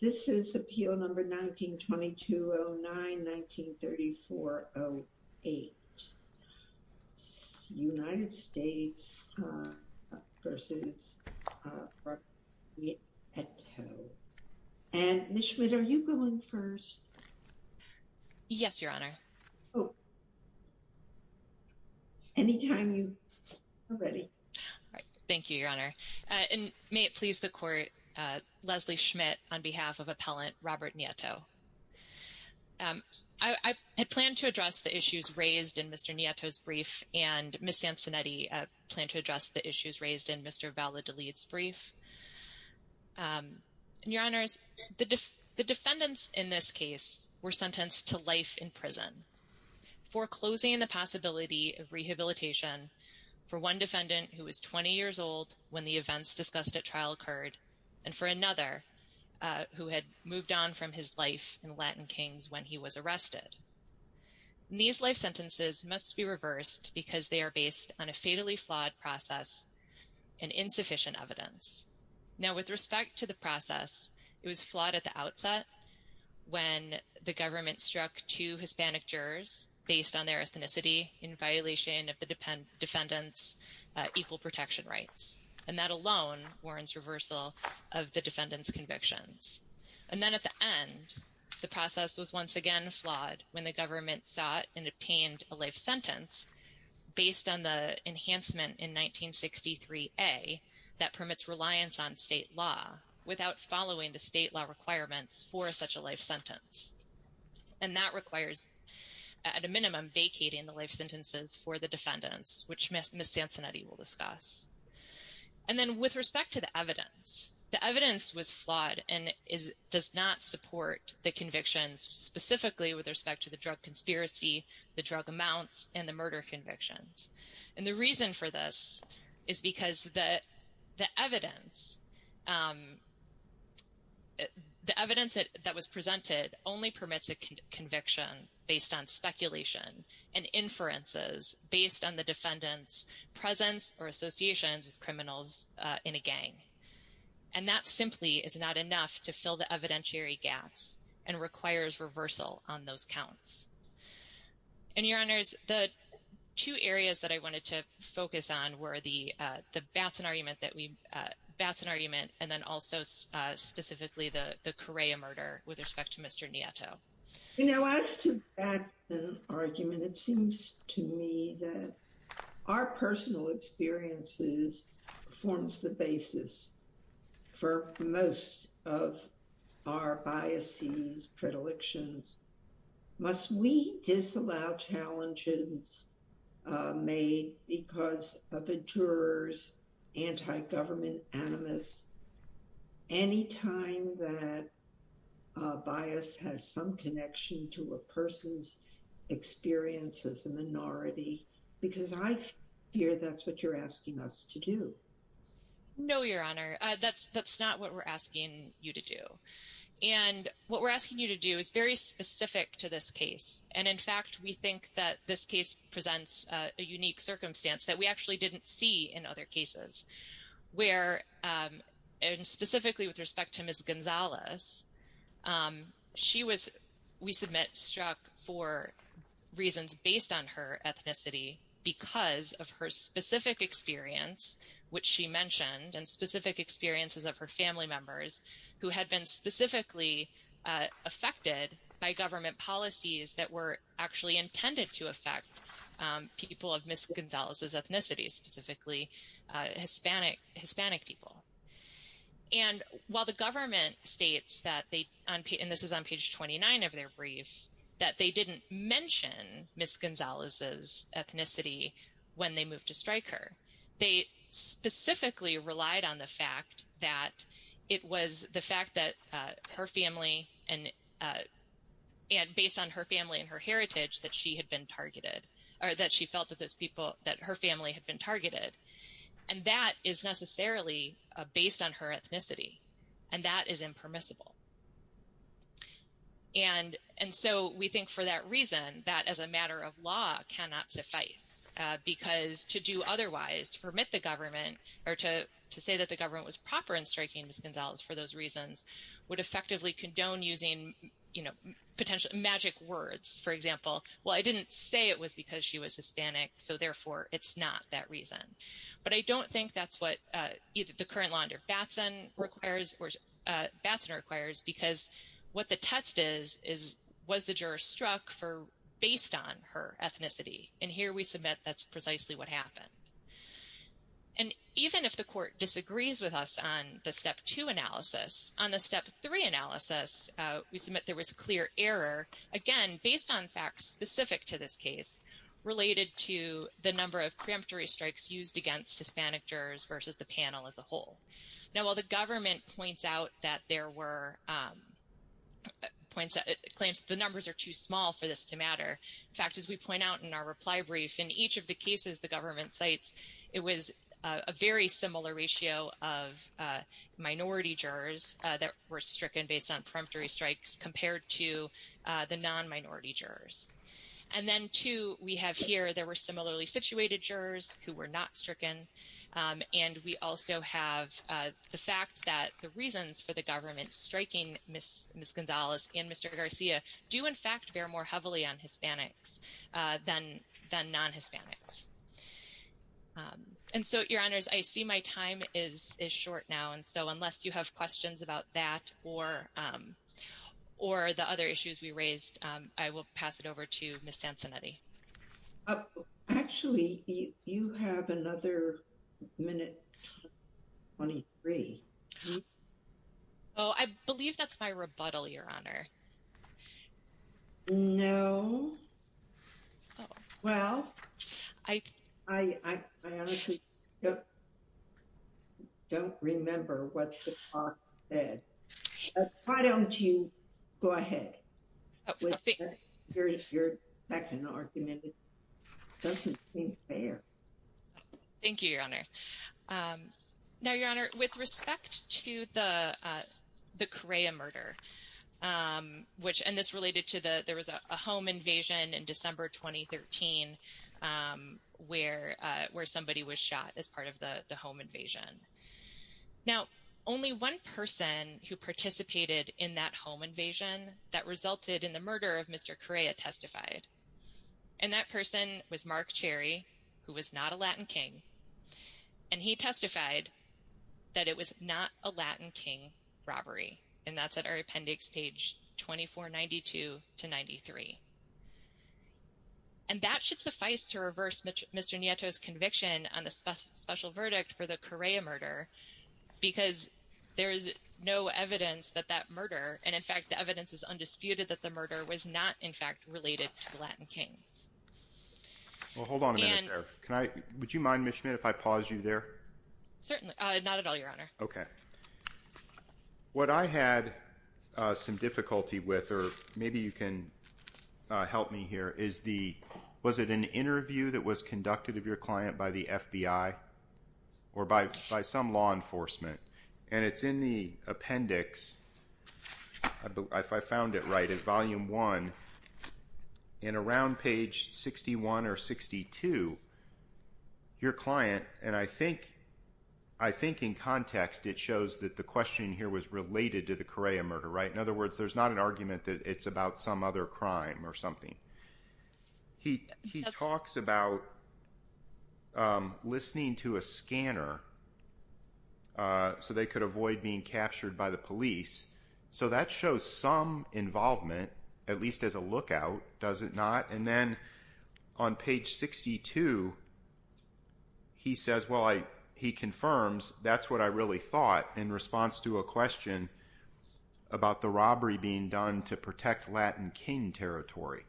This is appeal number 192209-193408. United States v. Robert Nieto. And Ms. Schmidt, are you going first? Yes, Your Honor. Oh. Anytime you are ready. Thank you, Your Honor. And may it please the Court, Leslie Schmidt, on behalf of Appellant Robert Nieto. I plan to address the issues raised in Mr. Nieto's brief, and Ms. Sansonetti, I plan to address the issues raised in Mr. Valladolid's brief. Your Honors, the defendants in this case were sentenced to life in prison foreclosing the possibility of rehabilitation for one defendant who was 20 years old when the events discussed at trial occurred, and for another who had moved on from his life in the Latin Kings when he was arrested. These life sentences must be reversed because they are based on a fatally flawed process and insufficient evidence. Now, with respect to the process, it was flawed at the outset when the government struck two Hispanic jurors based on their ethnicity in violation of the defendants' equal protection rights, and that alone warrants reversal of the defendants' convictions. And then at the end, the process was once again flawed when the government sought and obtained a life sentence based on the enhancement in 1963A that permits reliance on state law without following the state law requirements for such a life sentence. And that requires, at a minimum, vacating the life sentences for the defendants, which Ms. Sansonetti will discuss. And then with respect to the evidence, the evidence was flawed and does not support the convictions specifically with respect to the drug conspiracy, the drug amounts, and the murder convictions. And the reason for this is because the evidence that was presented only permits a conviction based on speculation and inferences based on the defendants' presence or associations with criminals in a gang. And that simply is not enough to fill the evidentiary gaps and requires reversal on those counts. And, Your Honors, the two areas that I wanted to focus on were the Batson argument and then also specifically the Correa murder with respect to Mr. Nieto. You know, as to the Batson argument, it seems to me that our personal experiences forms the basis for most of our biases, predilections. Must we disallow challenges made because of a juror's anti-government animus any time that bias has some connection to a person's experience as a minority? Because I fear that's what you're asking us to do. No, Your Honor, that's not what we're asking you to do. And what we're asking you to do is very specific to this case. And, in fact, we think that this case presents a unique circumstance that we actually didn't see in other cases. Where, and specifically with respect to Ms. Gonzalez, she was, we submit, struck for reasons based on her ethnicity because of her specific experience, which she mentioned and specific experiences of her family members who had been specifically affected by government policies that were actually intended to affect people of Ms. Gonzalez's ethnicity, specifically Hispanic people. And while the government states that they, and this is on page 29 of their brief, that they didn't mention Ms. Gonzalez's ethnicity when they moved to Stryker. They specifically relied on the fact that it was the fact that her family, and based on her family and her heritage, that she had been targeted, or that she felt that those people, that her family had been targeted. And that is necessarily based on her ethnicity. And that is impermissible. And so we think for that reason, that as a matter of law cannot suffice. Because to do otherwise, to permit the government, or to say that the government was proper in striking Ms. Gonzalez for those reasons, would effectively condone using, you know, potential magic words. For example, well I didn't say it was because she was Hispanic, so therefore it's not that reason. But I don't think that's what either the current law under Batson requires, or Batson requires, because what the test is, is was the juror struck for based on her ethnicity? And here we submit that's precisely what happened. And even if the court disagrees with us on the Step 2 analysis, on the Step 3 analysis, we submit there was clear error, again, based on facts specific to this case, related to the number of preemptory strikes used against Hispanic jurors versus the panel as a whole. Now while the government points out that there were, claims that the numbers are too small for this to matter, in fact, as we point out in our reply brief, in each of the cases the government cites, it was a very similar ratio of minority jurors that were stricken based on preemptory strikes compared to the non-minority jurors. And then too, we have here, there were similarly situated jurors who were not stricken, and we also have the fact that the reasons for the government striking Ms. Gonzalez and Mr. Garcia do in fact bear more heavily on Hispanics than non-Hispanics. And so, Your Honors, I see my time is short now, and so unless you have questions about that or, or the other issues we raised, I will pass it over to Ms. Sansonetti. Actually, you have another minute, 23. Oh, I believe that's my rebuttal, Your Honor. No. Well, I honestly don't remember what the talk said. Why don't you go ahead? Your second argument doesn't seem fair. Thank you, Your Honor. Now, Your Honor, with respect to the Correa murder, which, and this related to the, there was a home invasion in December 2013, where, where somebody was shot as part of the home invasion. Now, only one person who participated in that home invasion that resulted in the murder of Mr. Correa testified, and that person was Mark Cherry, who was not a Latin King, and he testified that it was not a Latin King robbery, and that's at our appendix page 2492 to 93. And that should suffice to reverse Mr. Nieto's conviction on the special verdict for the Correa murder, because there is no evidence that that murder, and, in fact, the evidence is undisputed that the murder was not, in fact, related to the Latin Kings. Well, hold on a minute there. Can I, would you mind, Ms. Schmidt, if I pause you there? Certainly, not at all, Your Honor. Okay. What I had some difficulty with, or maybe you can help me here, is the, was it an interview that was conducted of your client by the FBI or by some law enforcement? And it's in the appendix, if I found it right, it's volume one, and around page 61 or 62, your client, and I think, I think in context it shows that the question here was related to the Correa murder, right? In other words, there's not an argument that it's about some other crime or something. He talks about listening to a scanner so they could avoid being captured by the police. So that shows some involvement, at least as a lookout, does it not? And then on page 62, he says, well, he confirms, that's what I really thought in response to a question about the robbery being done to protect Latin King territory.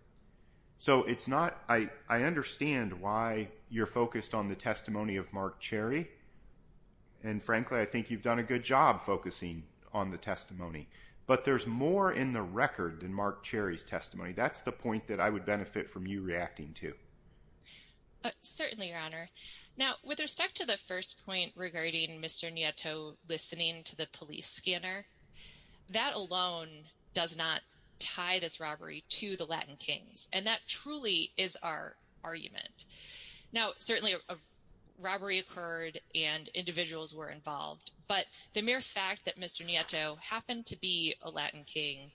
So it's not, I understand why you're focused on the testimony of Mark Cherry, and frankly, I think you've done a good job focusing on the testimony. But there's more in the record than Mark Cherry's testimony. That's the point that I would benefit from you reacting to. Certainly, Your Honor. Now, with respect to the first point regarding Mr. Nieto listening to the police scanner, that alone does not tie this robbery to the Latin Kings. And that truly is our argument. Now, certainly, a robbery occurred and individuals were involved. But the mere fact that Mr. Nieto happened to be a Latin King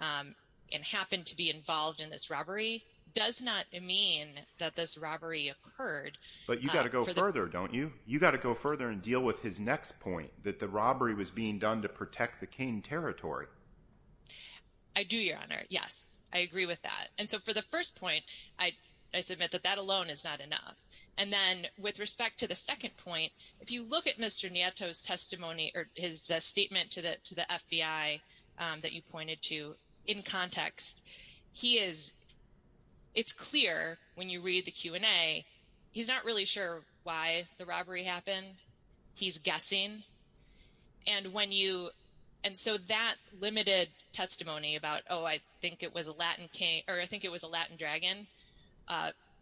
and happened to be involved in this robbery does not mean that this robbery occurred. But you've got to go further, don't you? You've got to go further and deal with his next point, that the robbery was being done to protect the King territory. I do, Your Honor. Yes, I agree with that. And so for the first point, I submit that that alone is not enough. And then with respect to the second point, if you look at Mr. Nieto's testimony or his statement to the FBI that you pointed to in context, he is, it's clear when you read the Q&A, he's not really sure why the robbery happened. He's guessing. And when you and so that limited testimony about, oh, I think it was a Latin King or I think it was a Latin dragon.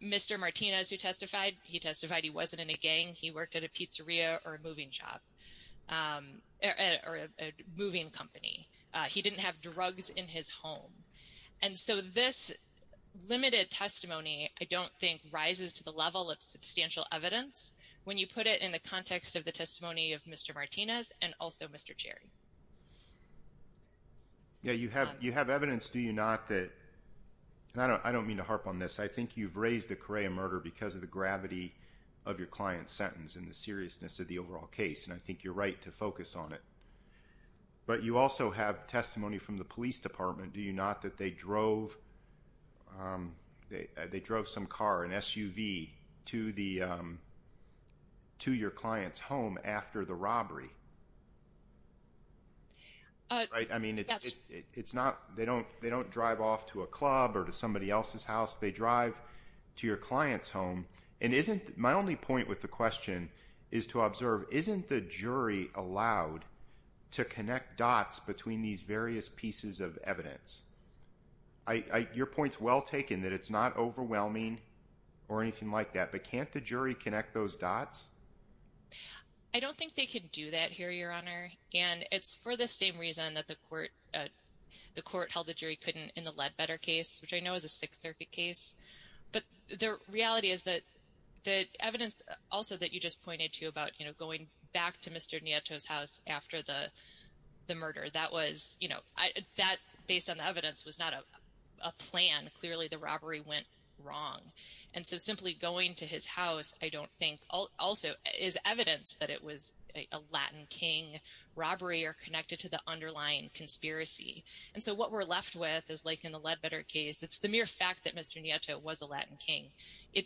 Mr. Martinez, who testified, he testified he wasn't in a gang. He worked at a pizzeria or a moving shop or a moving company. He didn't have drugs in his home. And so this limited testimony, I don't think, rises to the level of substantial evidence. When you put it in the context of the testimony of Mr. Martinez and also Mr. Cherry. Yeah, you have evidence, do you not, that, and I don't mean to harp on this. I think you've raised the Correa murder because of the gravity of your client's sentence and the seriousness of the overall case. And I think you're right to focus on it. But you also have testimony from the police department, do you not, that they drove some car, an SUV, to your client's home after the robbery. I mean, it's not, they don't drive off to a club or to somebody else's house. They drive to your client's home. And isn't, my only point with the question is to observe, isn't the jury allowed to connect dots between these various pieces of evidence? Your point's well taken that it's not overwhelming or anything like that. But can't the jury connect those dots? I don't think they could do that here, Your Honor. And it's for the same reason that the court held the jury couldn't in the Ledbetter case, which I know is a Sixth Circuit case. But the reality is that the evidence also that you just pointed to about, you know, going back to Mr. Nieto's house after the murder, that was, you know, that, based on the evidence, was not a plan. Clearly the robbery went wrong. And so simply going to his house, I don't think, also is evidence that it was a Latin King robbery or connected to the underlying conspiracy. And so what we're left with is like in the Ledbetter case. It's the mere fact that Mr. Nieto was a Latin King.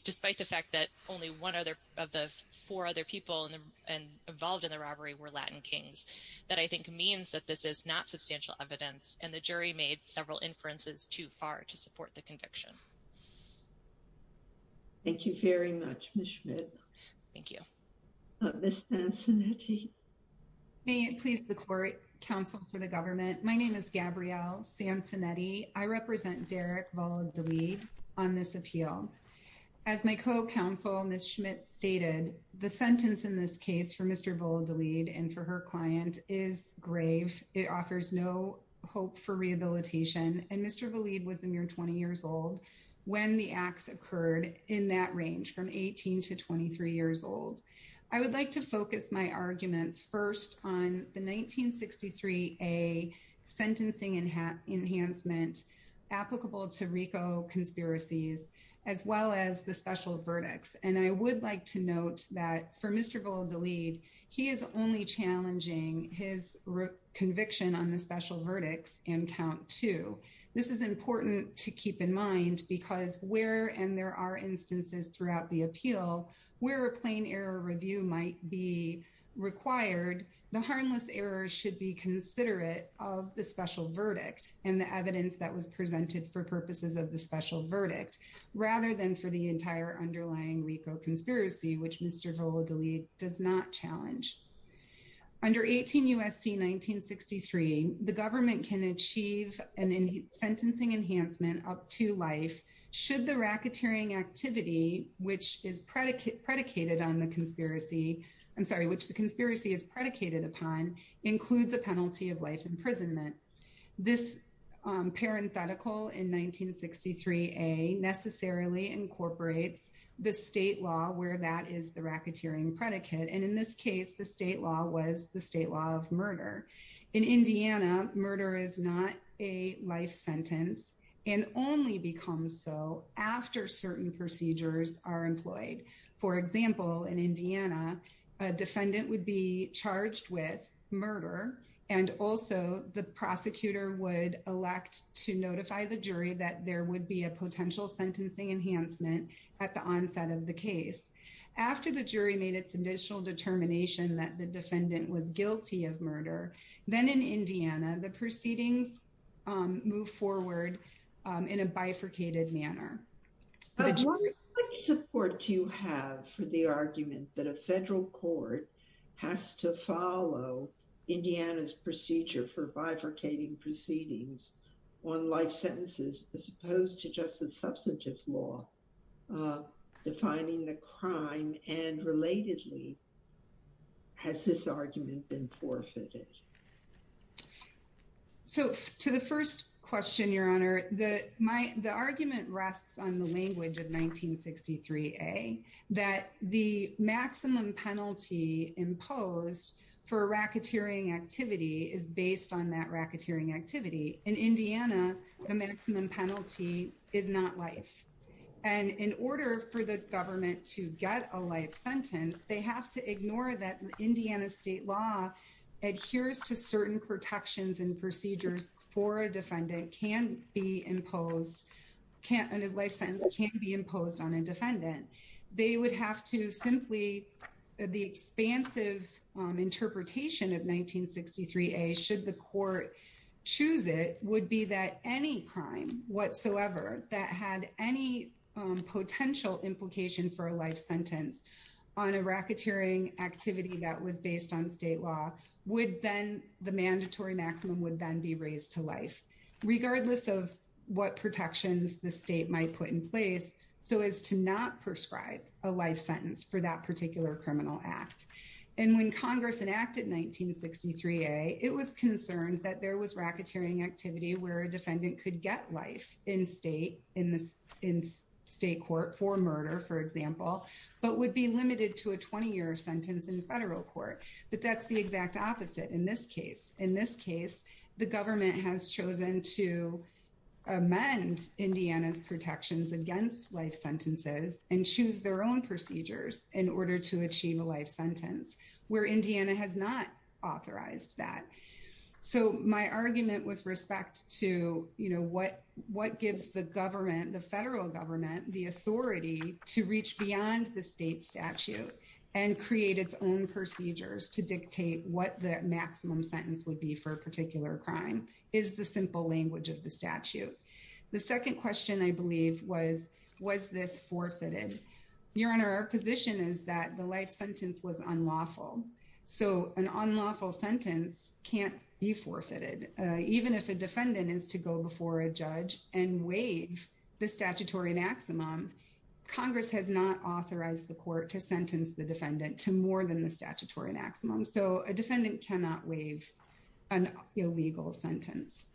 Despite the fact that only one of the four other people involved in the robbery were Latin Kings. That I think means that this is not substantial evidence. And the jury made several inferences too far to support the conviction. Thank you very much, Ms. Schmidt. Thank you. Ms. Antonetti. May it please the court, counsel for the government. My name is Gabrielle Sancinetti. I represent Derek Valladolid on this appeal. As my co-counsel, Ms. Schmidt, stated, the sentence in this case for Mr. Valladolid and for her client is grave. It offers no hope for rehabilitation. And Mr. Valladolid was a mere 20 years old when the acts occurred in that range, from 18 to 23 years old. I would like to focus my arguments first on the 1963A sentencing enhancement applicable to RICO conspiracies, as well as the special verdicts. And I would like to note that for Mr. Valladolid, he is only challenging his conviction on the special verdicts and count two. This is important to keep in mind because where, and there are instances throughout the appeal, where a plain error review might be required, the harmless error should be considerate of the special verdict and the evidence that was presented for purposes of the special verdict, rather than for the entire underlying RICO conspiracy, which Mr. Valladolid does not challenge. Under 18 U.S.C. 1963, the government can achieve a sentencing enhancement up to life, should the racketeering activity which is predicated on the conspiracy, I'm sorry, which the conspiracy is predicated upon, includes a penalty of life imprisonment. This parenthetical in 1963A necessarily incorporates the state law where that is the racketeering predicate. And in this case, the state law was the state law of murder. In Indiana, murder is not a life sentence and only becomes so after certain procedures are employed. For example, in Indiana, a defendant would be charged with murder, and also the prosecutor would elect to notify the jury that there would be a potential sentencing enhancement at the onset of the case. After the jury made its initial determination that the defendant was guilty of murder, then in Indiana, the proceedings move forward in a bifurcated manner. What support do you have for the argument that a federal court has to follow Indiana's procedure for bifurcating proceedings on life sentences, as opposed to just a substantive law defining the crime? And relatedly, has this argument been forfeited? So to the first question, Your Honor, the argument rests on the language of 1963A, that the maximum penalty imposed for a racketeering activity is based on that racketeering activity. In Indiana, the maximum penalty is not life. And in order for the government to get a life sentence, they have to ignore that Indiana state law adheres to certain protections and procedures for a defendant can't be imposed, and a life sentence can't be imposed on a defendant. The expansive interpretation of 1963A, should the court choose it, would be that any crime whatsoever that had any potential implication for a life sentence on a racketeering activity that was based on state law, the mandatory maximum would then be raised to life, regardless of what protections the state might put in place. So as to not prescribe a life sentence for that particular criminal act. And when Congress enacted 1963A, it was concerned that there was racketeering activity where a defendant could get life in state court for murder, for example, but would be limited to a 20-year sentence in federal court. But that's the exact opposite in this case. In this case, the government has chosen to amend Indiana's protections against life sentences and choose their own procedures in order to achieve a life sentence, where Indiana has not authorized that. So my argument with respect to, you know, what gives the government, the federal government, the authority to reach beyond the state statute and create its own procedures to dictate what the maximum sentence would be for a particular crime is the simple language of the statute. The second question I believe was, was this forfeited? Your Honor, our position is that the life sentence was unlawful. So an unlawful sentence can't be forfeited. Even if a defendant is to go before a judge and waive the statutory maximum, Congress has not authorized the court to sentence the defendant to more than the statutory maximum. So a defendant cannot waive an illegal sentence.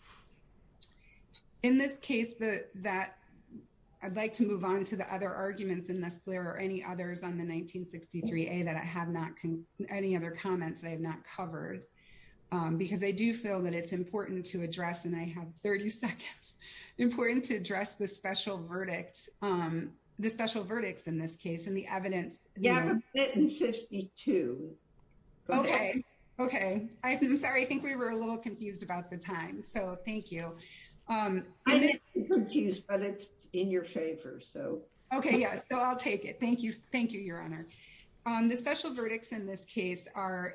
In this case, I'd like to move on to the other arguments in this, Claire, or any others on the 1963A that I have not, any other comments that I have not covered. Because I do feel that it's important to address, and I have 30 seconds, important to address the special verdict, the special verdicts in this case and the evidence. Yeah, we have a bit in 52. Okay. Okay. I'm sorry. I think we were a little confused about the time. So thank you. I'm not confused, but it's in your favor, so. Okay, yeah, so I'll take it. Thank you. Thank you, Your Honor. The special verdicts in this case are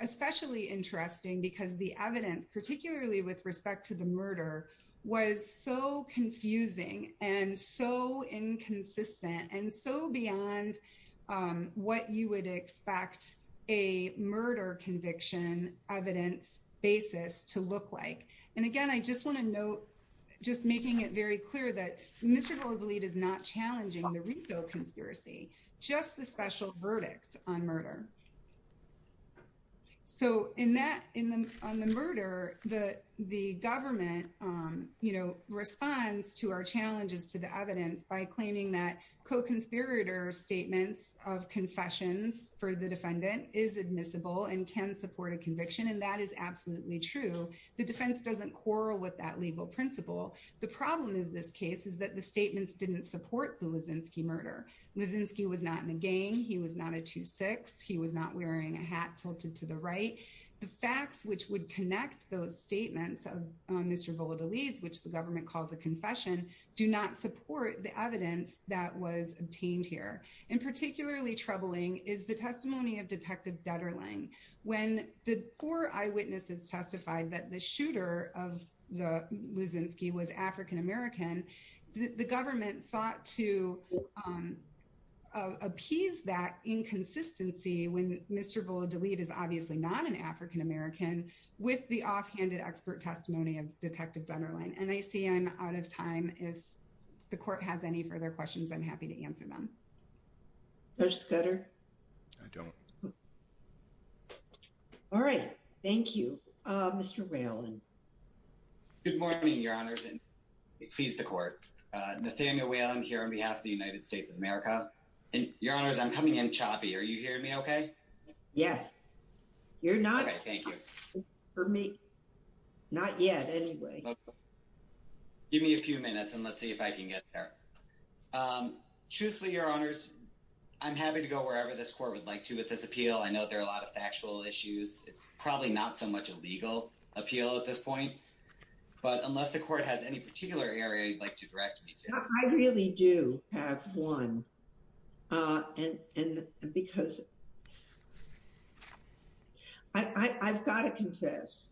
especially interesting because the evidence, particularly with respect to the murder, was so confusing and so inconsistent and so beyond what you would expect a murder conviction evidence basis to look like. And, again, I just want to note, just making it very clear that Mr. Goldlee is not challenging the RICO conspiracy, just the special verdict on murder. So in that, on the murder, the government, you know, responds to our challenges to the evidence by claiming that co-conspirator statements of confessions for the defendant is admissible and can support a conviction, and that is absolutely true. The defense doesn't quarrel with that legal principle. The problem in this case is that the statements didn't support the was in ski murder was in ski was not in a gang. He was not a two six. He was not wearing a hat tilted to the right. The facts which would connect those statements of Mr. Goldlee's, which the government calls a confession, do not support the evidence that was obtained here and particularly troubling is the testimony of Detective Detterling when the four eyewitnesses testified that the shooter of the was in ski was African American. The government sought to appease that inconsistency when Mr. Goldlee is obviously not an African American with the offhanded expert testimony of Detective Detterling. And I see I'm out of time. If the court has any further questions, I'm happy to answer them. There's better. I don't. All right. Thank you, Mr. Valen. Good morning, Your Honor, and please the court. Nathaniel Whalen here on behalf of the United States of America. And Your Honor, I'm coming in choppy. Are you hearing me OK? Yes. You're not. Thank you for me. Not yet anyway. Give me a few minutes and let's see if I can get there. Truthfully, Your Honors, I'm happy to go wherever this court would like to with this appeal. I know there are a lot of factual issues. It's probably not so much a legal appeal at this point, but unless the court has any particular area you'd like to direct me to. I really do have one. And because I've got to confess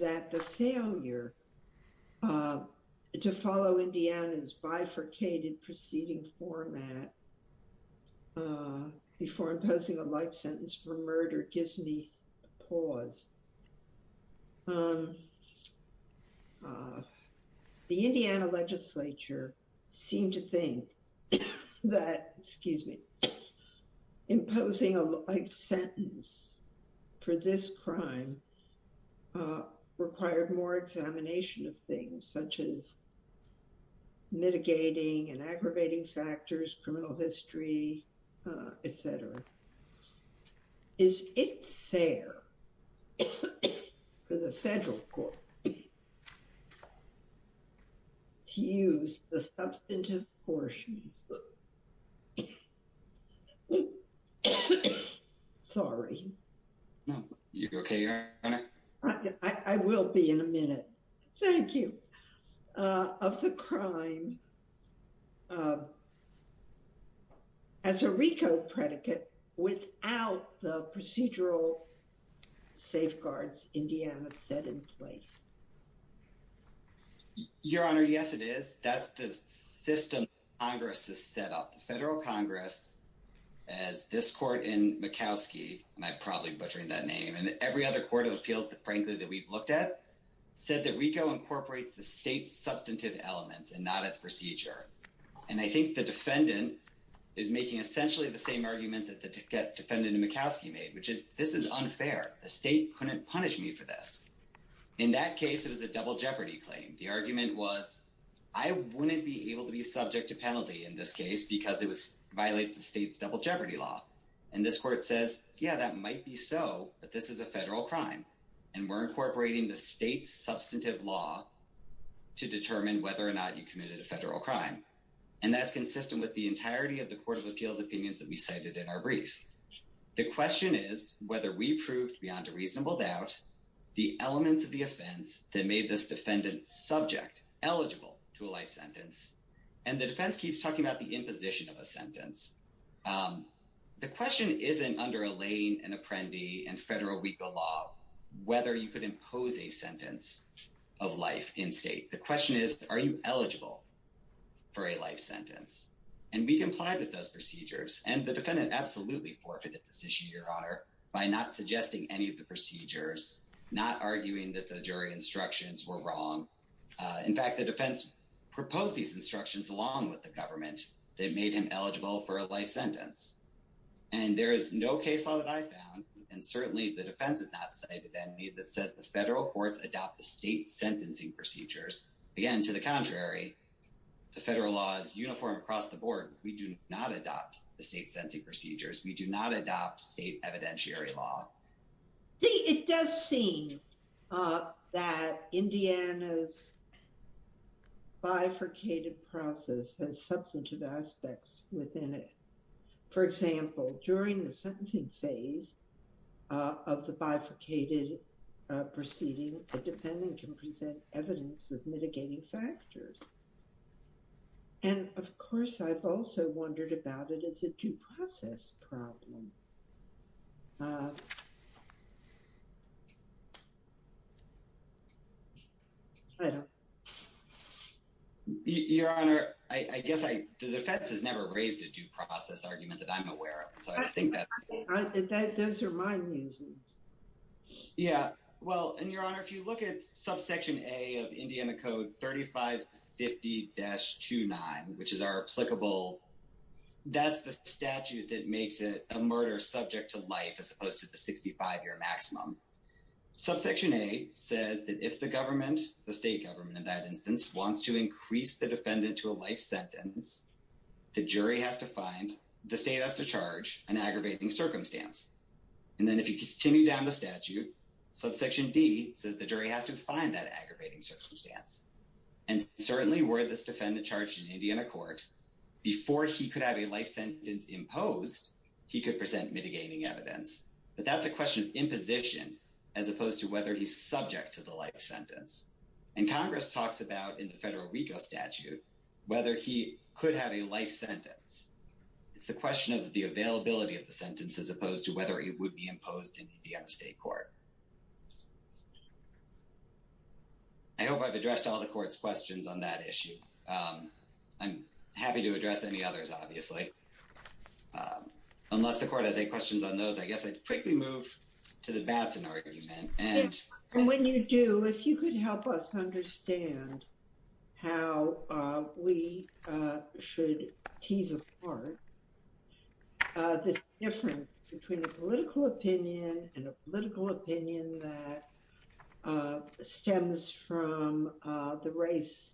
that the failure to follow Indiana's bifurcated proceeding format before imposing a life sentence for murder gives me pause. The Indiana legislature seemed to think that, excuse me, imposing a life sentence for this crime required more examination of things such as mitigating and aggravating factors, criminal history, et cetera. Is it fair for the federal court to use the substantive portions of the crime as a RICO predicate? Without the procedural safeguards Indiana had set in place? Your Honor, yes, it is. That's the system Congress has set up. The federal Congress, as this court in Murkowski, and I'm probably butchering that name, and every other court of appeals, frankly, that we've looked at, said that RICO incorporates the state's substantive elements and not its procedure. And I think the defendant is making essentially the same argument that the defendant in Murkowski made, which is this is unfair. The state couldn't punish me for this. In that case, it was a double jeopardy claim. The argument was I wouldn't be able to be subject to penalty in this case because it violates the state's double jeopardy law. And this court says, yeah, that might be so, but this is a federal crime, and we're incorporating the state's substantive law to determine whether or not you committed a federal crime. And that's consistent with the entirety of the court of appeals opinions that we cited in our brief. The question is whether we proved beyond a reasonable doubt the elements of the offense that made this defendant's subject eligible to a life sentence. And the defense keeps talking about the imposition of a sentence. The question isn't under a lane, an apprendi, and federal RICO law whether you could impose a sentence of life in state. The question is, are you eligible for a life sentence? And we complied with those procedures, and the defendant absolutely forfeited this issue, Your Honor, by not suggesting any of the procedures, not arguing that the jury instructions were wrong. In fact, the defense proposed these instructions along with the government that made him eligible for a life sentence. And there is no case law that I found, and certainly the defense has not cited any, that says the federal courts adopt the state's sentencing procedures. Again, to the contrary, the federal law is uniform across the board. We do not adopt the state's sentencing procedures. We do not adopt state evidentiary law. It does seem that Indiana's bifurcated process has substantive aspects within it. For example, during the sentencing phase of the bifurcated proceeding, the defendant can present evidence of mitigating factors. And, of course, I've also wondered about it as a due process problem. Your Honor, I guess the defense has never raised a due process argument that I'm aware of. So I think that those are my reasons. Yeah, well, and, Your Honor, if you look at subsection A of Indiana Code 3550-29, which is our applicable, that's the statute that makes it a murder subject to life as opposed to the 65-year maximum. Subsection A says that if the government, the state government in that instance, wants to increase the defendant to a life sentence, the jury has to find, the state has to charge, an aggravating circumstance. And then if you continue down the statute, subsection D says the jury has to find that aggravating circumstance. And certainly were this defendant charged in Indiana court, before he could have a life sentence imposed, he could present mitigating evidence. But that's a question of imposition as opposed to whether he's subject to the life sentence. And Congress talks about, in the federal RICO statute, whether he could have a life sentence. It's the question of the availability of the sentence as opposed to whether it would be imposed in the state court. I hope I've addressed all the court's questions on that issue. I'm happy to address any others, obviously. Unless the court has any questions on those, I guess I'd quickly move to the Batson argument. When you do, if you could help us understand how we should tease apart this difference between a political opinion and a political opinion that stems from the race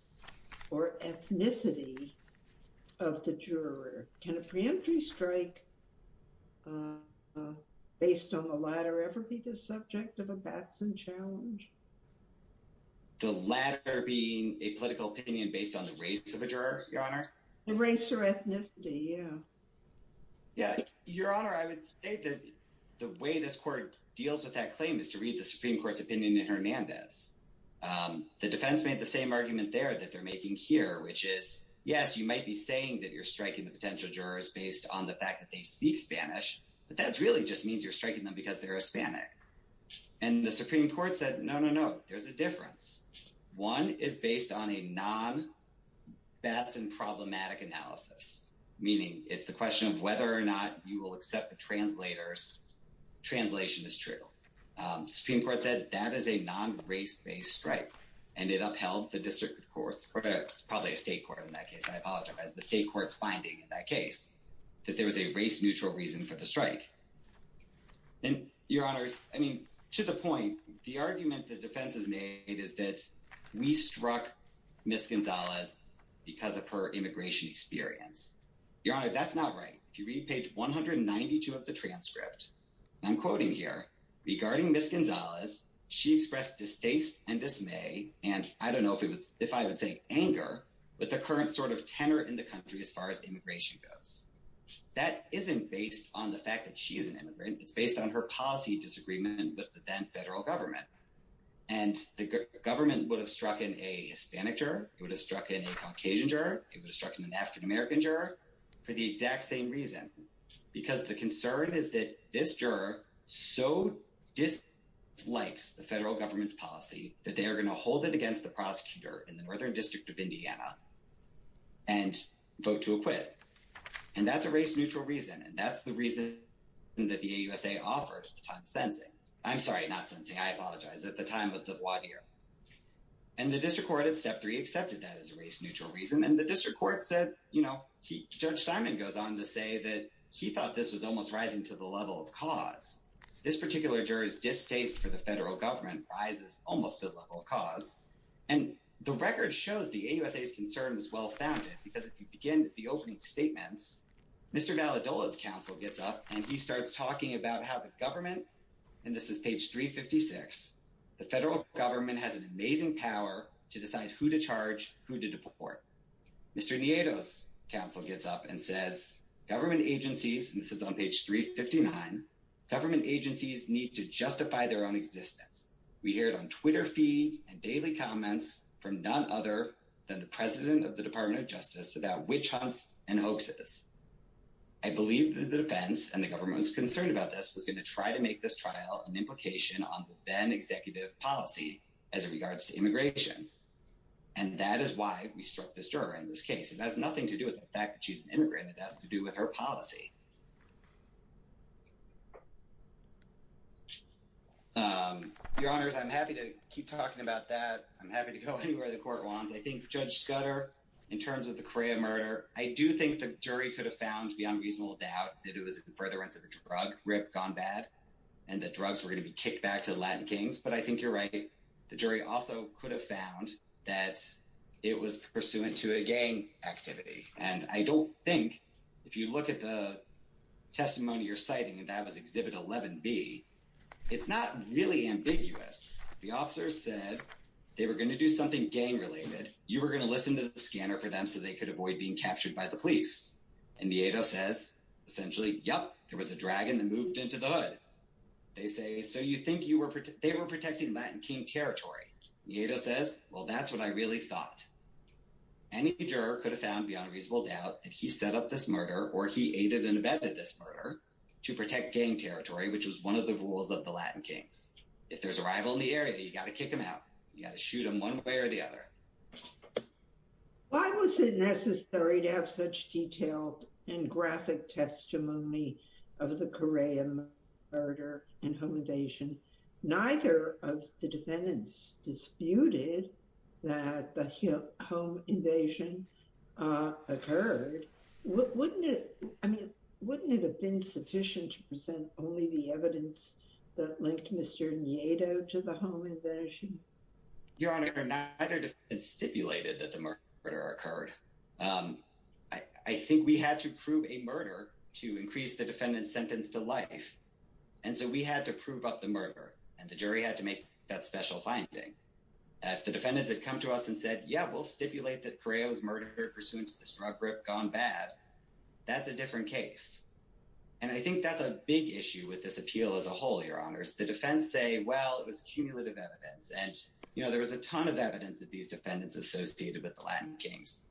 or ethnicity of the juror. Can a preemptory strike based on the latter ever be the subject of a Batson challenge? The latter being a political opinion based on the race of a juror, Your Honor? The race or ethnicity, yeah. Yeah, Your Honor, I would say that the way this court deals with that claim is to read the Supreme Court's opinion in Hernandez. The defense made the same argument there that they're making here, which is, yes, you might be saying that you're striking the potential jurors based on the fact that they speak Spanish. But that really just means you're striking them because they're Hispanic. And the Supreme Court said, no, no, no, there's a difference. One is based on a non-Batson problematic analysis, meaning it's the question of whether or not you will accept the translator's translation is true. Supreme Court said that is a non-race based strike. And it upheld the district courts or probably a state court in that case. I apologize. The state court's finding in that case that there was a race neutral reason for the strike. And, Your Honors, I mean, to the point, the argument the defense has made is that we struck Miss Gonzalez because of her immigration experience. Your Honor, that's not right. If you read page 192 of the transcript, I'm quoting here. Regarding Miss Gonzalez, she expressed distaste and dismay. And I don't know if I would say anger, but the current sort of tenor in the country as far as immigration goes. That isn't based on the fact that she is an immigrant. It's based on her policy disagreement with the then federal government. And the government would have struck in a Hispanic juror. It would have struck in a Caucasian juror. It would have struck in an African-American juror for the exact same reason. Because the concern is that this juror so dislikes the federal government's policy that they are going to hold it against the prosecutor in the Northern District of Indiana and vote to acquit. And that's a race neutral reason. And that's the reason that the AUSA offered at the time of sentencing. I'm sorry, not sentencing. I apologize. At the time of the voir dire. And the district court at step three accepted that as a race neutral reason. And the district court said, you know, Judge Simon goes on to say that he thought this was almost rising to the level of cause. This particular juror's distaste for the federal government rises almost to the level of cause. And the record shows the AUSA's concern was well founded because if you begin with the opening statements, Mr. Valadola's counsel gets up and he starts talking about how the government, and this is page 356, the federal government has an amazing power to decide who to charge, who to deport. Mr. Nieto's counsel gets up and says, government agencies, and this is on page 359, government agencies need to justify their own existence. We hear it on Twitter feeds and daily comments from none other than the president of the Department of Justice about witch hunts and hoaxes. I believe that the defense and the government is concerned about this was going to try to make this trial an implication on the then executive policy as it regards to immigration. And that is why we struck this jury in this case. It has nothing to do with the fact that she's an immigrant. It has to do with her policy. Your honors, I'm happy to keep talking about that. I'm happy to go anywhere the court wants. I think Judge Scudder, in terms of the CREA murder, I do think the jury could have found beyond reasonable doubt that it was in furtherance of a drug rip gone bad and that drugs were going to be kicked back to the Latin Kings. But I think you're right. The jury also could have found that it was pursuant to a gang activity. And I don't think if you look at the testimony you're citing, and that was exhibit 11B, it's not really ambiguous. The officers said they were going to do something gang related. You were going to listen to the scanner for them so they could avoid being captured by the police. And Nieto says, essentially, yep, there was a dragon that moved into the hood. They say, so you think they were protecting Latin King territory? Nieto says, well, that's what I really thought. Any juror could have found beyond reasonable doubt that he set up this murder or he aided and abetted this murder to protect gang territory, which was one of the rules of the Latin Kings. If there's a rival in the area, you got to kick them out. You got to shoot them one way or the other. Why was it necessary to have such detailed and graphic testimony of the Correa murder and home invasion? Neither of the defendants disputed that the home invasion occurred. Wouldn't it have been sufficient to present only the evidence that linked Mr. Nieto to the home invasion? Your Honor, neither of the defendants stipulated that the murder occurred. I think we had to prove a murder to increase the defendant's sentence to life. And so we had to prove up the murder and the jury had to make that special finding. If the defendants had come to us and said, yeah, we'll stipulate that Correa was murdered pursuant to this drug rip gone bad. That's a different case. And I think that's a big issue with this appeal as a whole, Your Honor. The defense say, well, it was cumulative evidence. And, you know, there was a ton of evidence that these defendants associated with the Latin Kings.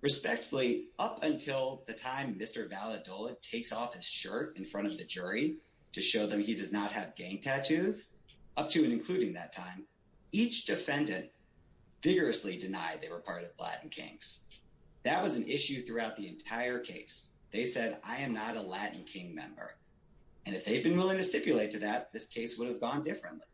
Respectfully, up until the time Mr. Valadola takes off his shirt in front of the jury to show them he does not have gang tattoos. Up to and including that time, each defendant vigorously denied they were part of the Latin Kings. That was an issue throughout the entire case. They said, I am not a Latin King member. And if they've been willing to stipulate to that, this case would have gone differently.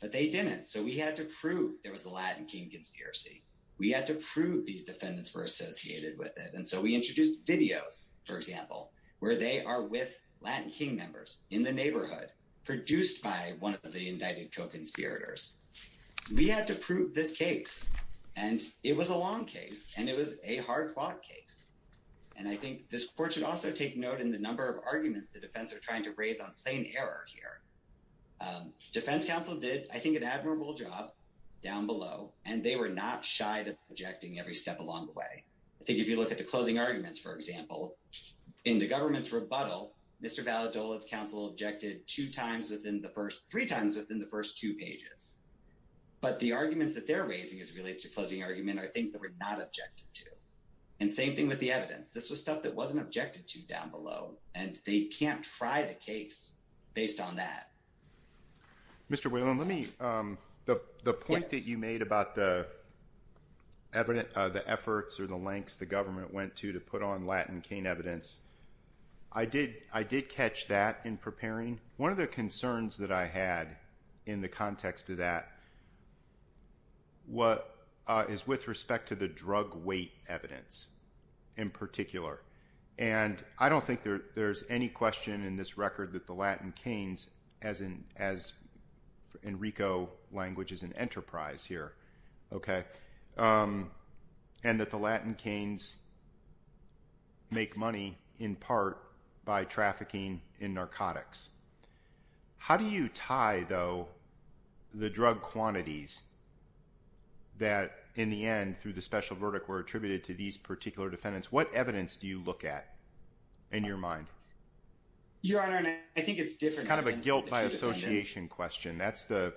But they didn't. So we had to prove there was a Latin King conspiracy. We had to prove these defendants were associated with it. And so we introduced videos, for example, where they are with Latin King members in the neighborhood produced by one of the indicted co-conspirators. We had to prove this case. And it was a long case and it was a hard fought case. And I think this court should also take note in the number of arguments the defense are trying to raise on plain error here. Defense counsel did, I think, an admirable job down below, and they were not shy to objecting every step along the way. I think if you look at the closing arguments, for example, in the government's rebuttal, Mr. Valadola's counsel objected two times within the first three times within the first two pages. But the arguments that they're raising as it relates to closing argument are things that were not objected to. And same thing with the evidence. This was stuff that wasn't objected to down below. And they can't try the case based on that. Mr. Whalen, let me. The point that you made about the evidence, the efforts or the lengths the government went to to put on Latin King evidence. I did. I did catch that in preparing one of the concerns that I had in the context of that. What is with respect to the drug weight evidence in particular? And I don't think there's any question in this record that the Latin Kings, as in Rico language is an enterprise here, and that the Latin Kings make money in part by trafficking in narcotics. How do you tie, though, the drug quantities that in the end, through the special verdict, were attributed to these particular defendants? What evidence do you look at in your mind? Your Honor, I think it's different kind of a guilt by association question. That's the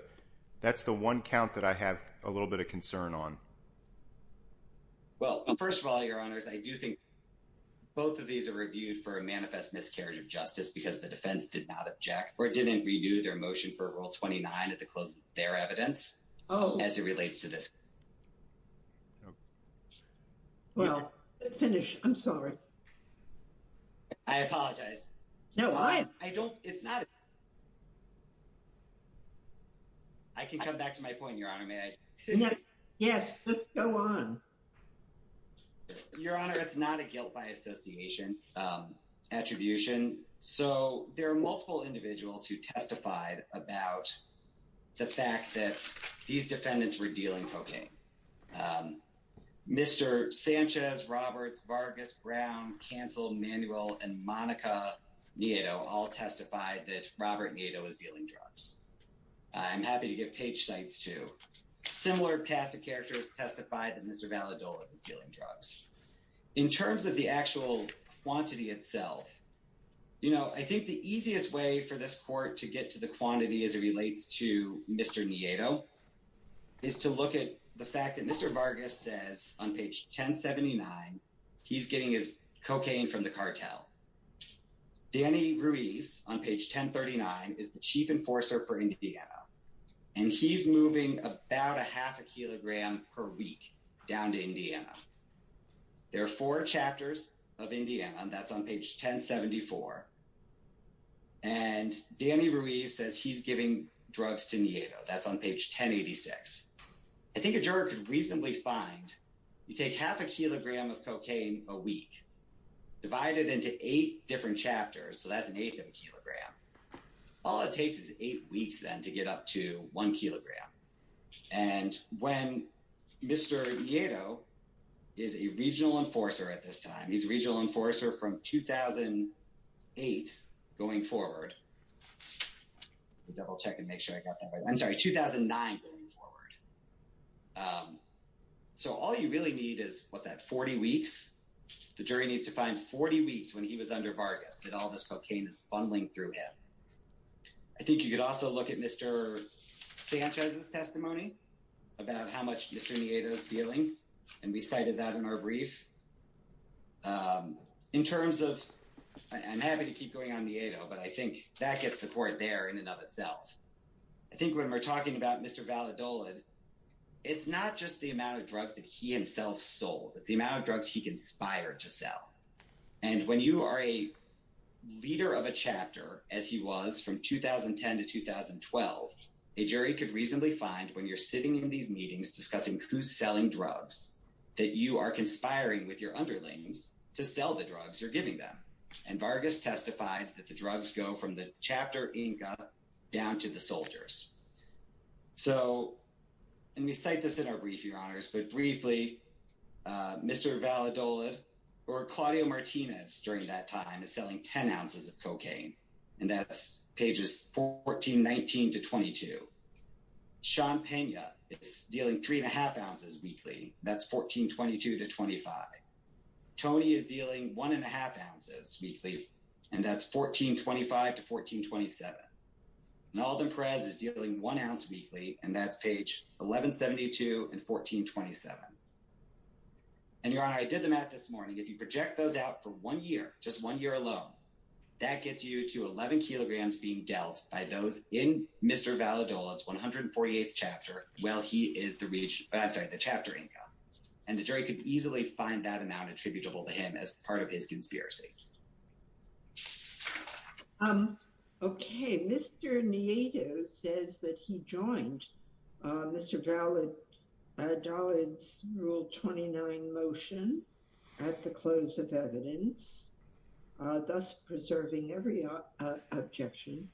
that's the one count that I have a little bit of concern on. Well, first of all, your honors, I do think both of these are reviewed for a manifest miscarriage of justice because the defense did not object or didn't renew their motion for rule twenty nine at the close of their evidence. Oh, as it relates to this. Well, finish. I'm sorry. I apologize. No, I don't. It's not. I can come back to my point. Your Honor, may I go on? Your Honor, it's not a guilt by association attribution. So there are multiple individuals who testified about the fact that these defendants were dealing cocaine. Mr. Sanchez, Roberts, Vargas, Brown, canceled manual and Monica, you know, all testified that Robert was dealing drugs. I'm happy to give page sites to similar cast of characters testified that Mr. Valadol is dealing drugs in terms of the actual quantity itself. You know, I think the easiest way for this court to get to the quantity as it relates to Mr. Nieto is to look at the fact that Mr. Vargas says on page ten seventy nine, he's getting his cocaine from the cartel. Danny Ruiz on page ten thirty nine is the chief enforcer for Indiana, and he's moving about a half a kilogram per week down to Indiana. There are four chapters of Indiana and that's on page ten seventy four. And Danny Ruiz says he's giving drugs to Nieto. That's on page ten eighty six. I think a juror could reasonably find you take half a kilogram of cocaine a week. Divided into eight different chapters. So that's an eighth of a kilogram. All it takes is eight weeks then to get up to one kilogram. And when Mr. Nieto is a regional enforcer at this time, he's a regional enforcer from 2008 going forward. Double check and make sure I got that right. I'm sorry. 2009 going forward. So all you really need is what that 40 weeks. The jury needs to find 40 weeks when he was under Vargas and all this cocaine is fumbling through him. I think you could also look at Mr. Sanchez's testimony about how much Mr. Nieto is feeling. And we cited that in our brief. In terms of I'm happy to keep going on Nieto, but I think that gets the point there in and of itself. I think when we're talking about Mr. Valadolid, it's not just the amount of drugs that he himself sold. It's the amount of drugs he conspired to sell. And when you are a leader of a chapter, as he was from 2010 to 2012, a jury could reasonably find when you're sitting in these meetings discussing who's selling drugs, that you are conspiring with your underlings to sell the drugs you're giving them. And Vargas testified that the drugs go from the chapter down to the soldiers. So and we cite this in our brief, your honors, but briefly, Mr. Valadolid or Claudio Martinez during that time is selling 10 ounces of cocaine. And that's pages 14, 19 to 22. Sean Pena is dealing three and a half ounces weekly. That's 1422 to 25. Tony is dealing one and a half ounces weekly. And that's 1425 to 1427. And Alden Perez is dealing one ounce weekly. And that's page 1172 and 1427. And your honor, I did the math this morning. If you project those out for one year, just one year alone, that gets you to 11 kilograms being dealt by those in Mr. Valadolid's 148th chapter. Well, he is the reach outside the chapter. And the jury could easily find that amount attributable to him as part of his conspiracy. Okay. Mr. Nieto says that he joined Mr. Valadolid's rule 29 motion at the close of evidence, thus preserving every objection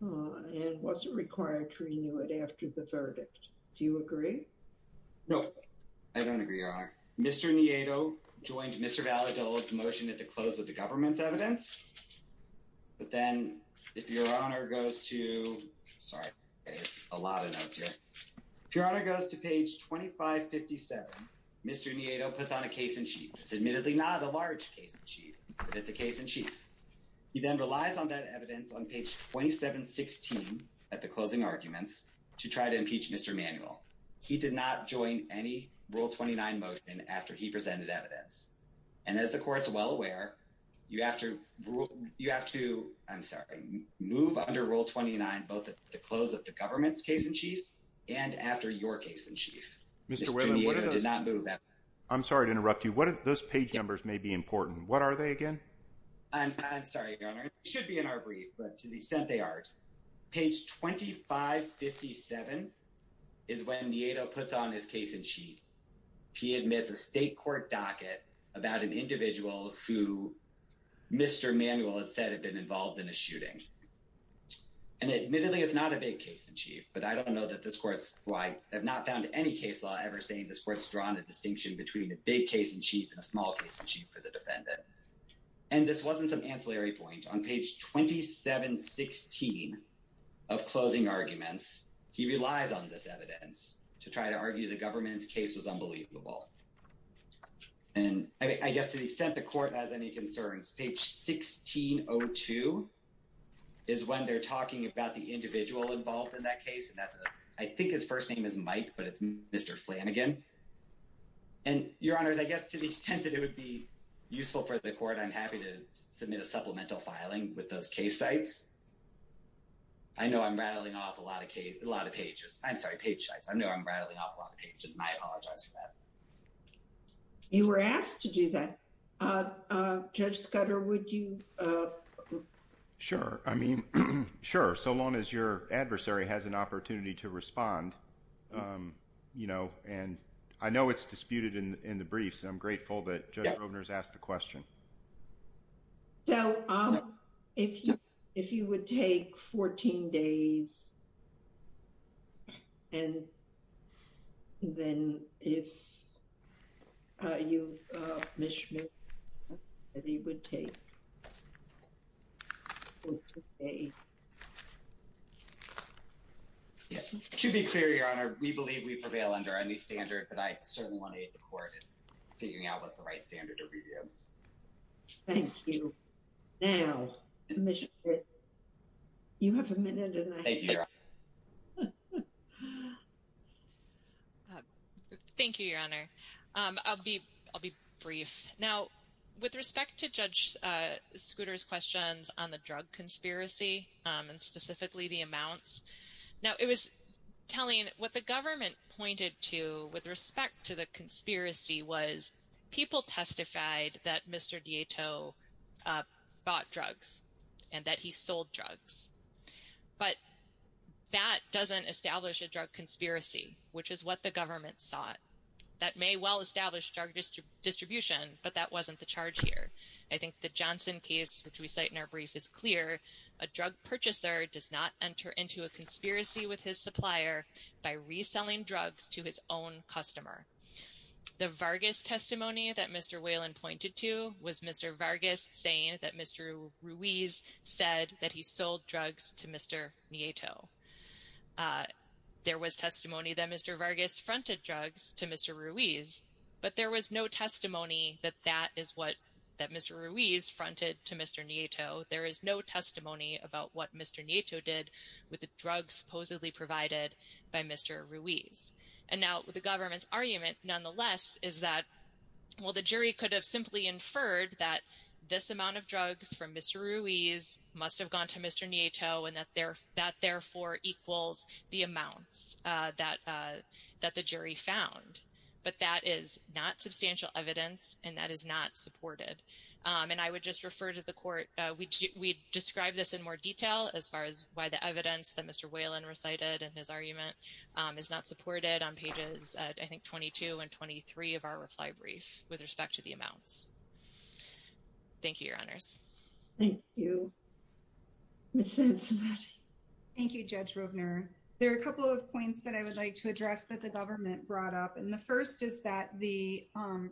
and wasn't required to renew it after the verdict. Do you agree? No, I don't agree, your honor. Mr. Nieto joined Mr. Valadolid's motion at the close of the government's evidence. But then if your honor goes to, sorry, a lot of notes here. If your honor goes to page 2557, Mr. Nieto puts on a case in chief. It's admittedly not a large case in chief, but it's a case in chief. He then relies on that evidence on page 2716 at the closing arguments to try to impeach Mr. Manuel. He did not join any rule 29 motion after he presented evidence. And as the court's well aware, you have to rule, you have to, I'm sorry, move under rule 29, both at the close of the government's case in chief and after your case in chief. Mr. Walen, I'm sorry to interrupt you. Those page numbers may be important. What are they again? I'm sorry, your honor. It should be in our brief, but to the extent they aren't. Page 2557 is when Nieto puts on his case in chief. He admits a state court docket about an individual who Mr. Manuel had said had been involved in a shooting. And admittedly, it's not a big case in chief. But I don't know that this court's right. I have not found any case law ever saying this court's drawn a distinction between a big case in chief and a small case in chief for the defendant. And this wasn't some ancillary point on page 2716 of closing arguments. He relies on this evidence to try to argue the government's case was unbelievable. And I guess to the extent the court has any concerns, page 1602 is when they're talking about the individual involved in that case. And that's, I think his first name is Mike, but it's Mr. Flanagan. And your honors, I guess to the extent that it would be useful for the court, I'm happy to submit a supplemental filing with those case sites. I know I'm rattling off a lot of pages. I'm sorry, page sites. I know I'm rattling off a lot of pages, and I apologize for that. You were asked to do that. Judge Scudder, would you? Sure. I mean, sure. So long as your adversary has an opportunity to respond, you know, and I know it's disputed in the briefs. I'm grateful that Judge Rovner has asked the question. So if you would take 14 days, and then if you, Ms. Schmidt, if you would take 14 days. To be clear, your honor, we believe we prevail under any standard, but I certainly want to aid the court in figuring out what's the right standard to review. Thank you. Now, Ms. Schmidt, you have a minute or less. Thank you, your honor. I'll be brief. Now, with respect to Judge Scudder's questions on the drug conspiracy, and specifically the amounts, now, it was telling what the government pointed to with respect to the conspiracy was people testified that Mr. Dieto bought drugs and that he sold drugs. But that doesn't establish a drug conspiracy, which is what the government sought. That may well establish drug distribution, but that wasn't the charge here. I think the Johnson case, which we cite in our brief, is clear. A drug purchaser does not enter into a conspiracy with his supplier by reselling drugs to his own customer. The Vargas testimony that Mr. Whalen pointed to was Mr. Vargas saying that Mr. Ruiz said that he sold drugs to Mr. Nieto. There was testimony that Mr. Vargas fronted drugs to Mr. Ruiz, but there was no testimony that that is what, that Mr. Ruiz fronted to Mr. Nieto. There is no testimony about what Mr. Nieto did with the drugs supposedly provided by Mr. Ruiz. And now, the government's argument, nonetheless, is that, well, the jury could have simply inferred that this amount of drugs from Mr. Ruiz must have gone to Mr. Nieto, and that therefore equals the amounts that the jury found. But that is not substantial evidence, and that is not supported. And I would just refer to the court. We describe this in more detail as far as why the evidence that Mr. Whalen recited in his argument is not supported on pages, I think, 22 and 23 of our reply brief with respect to the amounts. Thank you, Your Honors. Thank you. Ms. Henson. Thank you, Judge Rovner. There are a couple of points that I would like to address that the government brought up. And the first is that the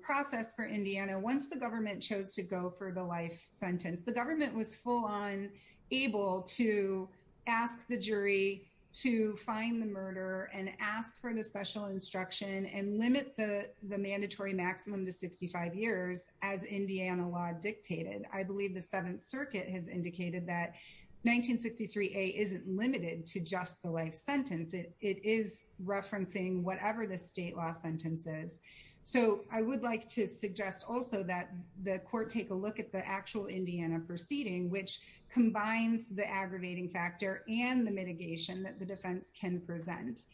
process for Indiana, once the government chose to go for the life sentence, the government was full on able to ask the jury to find the murder and ask for the special instruction and limit the mandatory maximum to 65 years as Indiana law dictated. I believe the Seventh Circuit has indicated that 1963A isn't limited to just the life sentence. It is referencing whatever the state law sentence is. So I would like to suggest also that the court take a look at the actual Indiana proceeding, which combines the aggravating factor and the mitigation that the defense can present.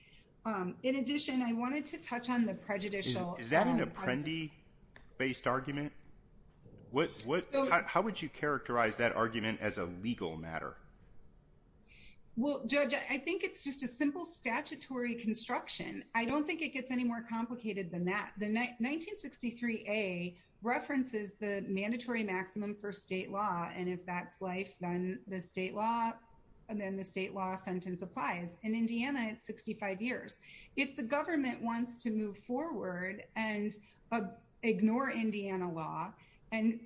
In addition, I wanted to touch on the prejudicial. Is that an apprendi-based argument? How would you characterize that argument as a legal matter? Well, Judge, I think it's just a simple statutory construction. I don't think it gets any more complicated than that. The 1963A references the mandatory maximum for state law. And if that's life, then the state law sentence applies. In Indiana, it's 65 years. If the government wants to move forward and ignore Indiana law and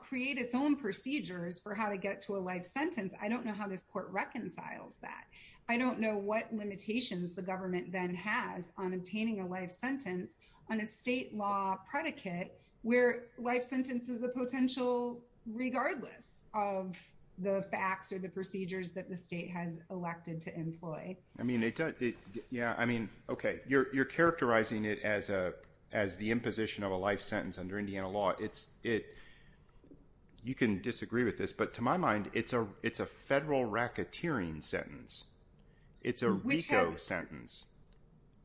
create its own procedures for how to get to a life sentence, I don't know how this court reconciles that. I don't know what limitations the government then has on obtaining a life sentence on a state law predicate where life sentence is a potential regardless of the facts or the procedures that the state has elected to employ. You're characterizing it as the imposition of a life sentence under Indiana law. You can disagree with this, but to my mind, it's a federal racketeering sentence. It's a RICO sentence.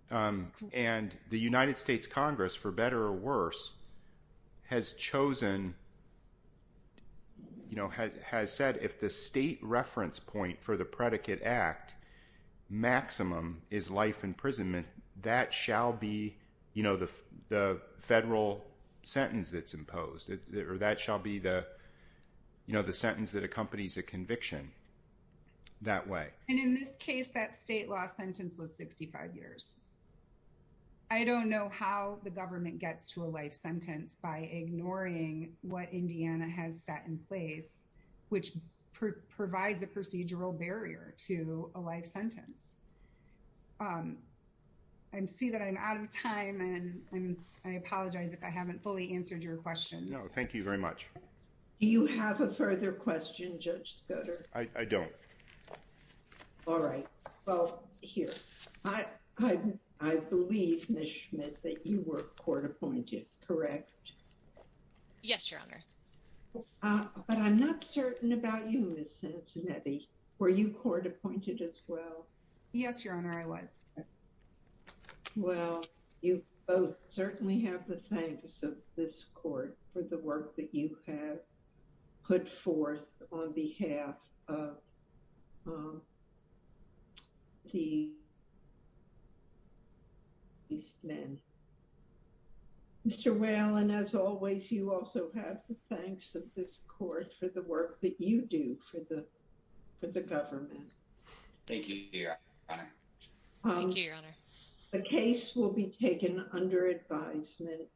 And the United States Congress, for better or worse, has said if the state reference point for the predicate act maximum is life imprisonment, that shall be the federal sentence that's imposed. That shall be the sentence that accompanies a conviction that way. And in this case, that state law sentence was 65 years. I don't know how the government gets to a life sentence by ignoring what Indiana has set in place, which provides a procedural barrier to a life sentence. I see that I'm out of time, and I apologize if I haven't fully answered your question. No, thank you very much. Do you have a further question, Judge Scoder? I don't. All right. Well, here. I believe, Ms. Schmidt, that you were court appointed, correct? Yes, Your Honor. But I'm not certain about you, Ms. Cincinnati. Were you court appointed as well? Yes, Your Honor, I was. Well, you both certainly have the thanks of this court for the work that you have put forth on behalf of these men. Mr. Whalen, as always, you also have the thanks of this court for the work that you do for the government. Thank you, Your Honor. Thank you, Your Honor. The case will be taken under advisement.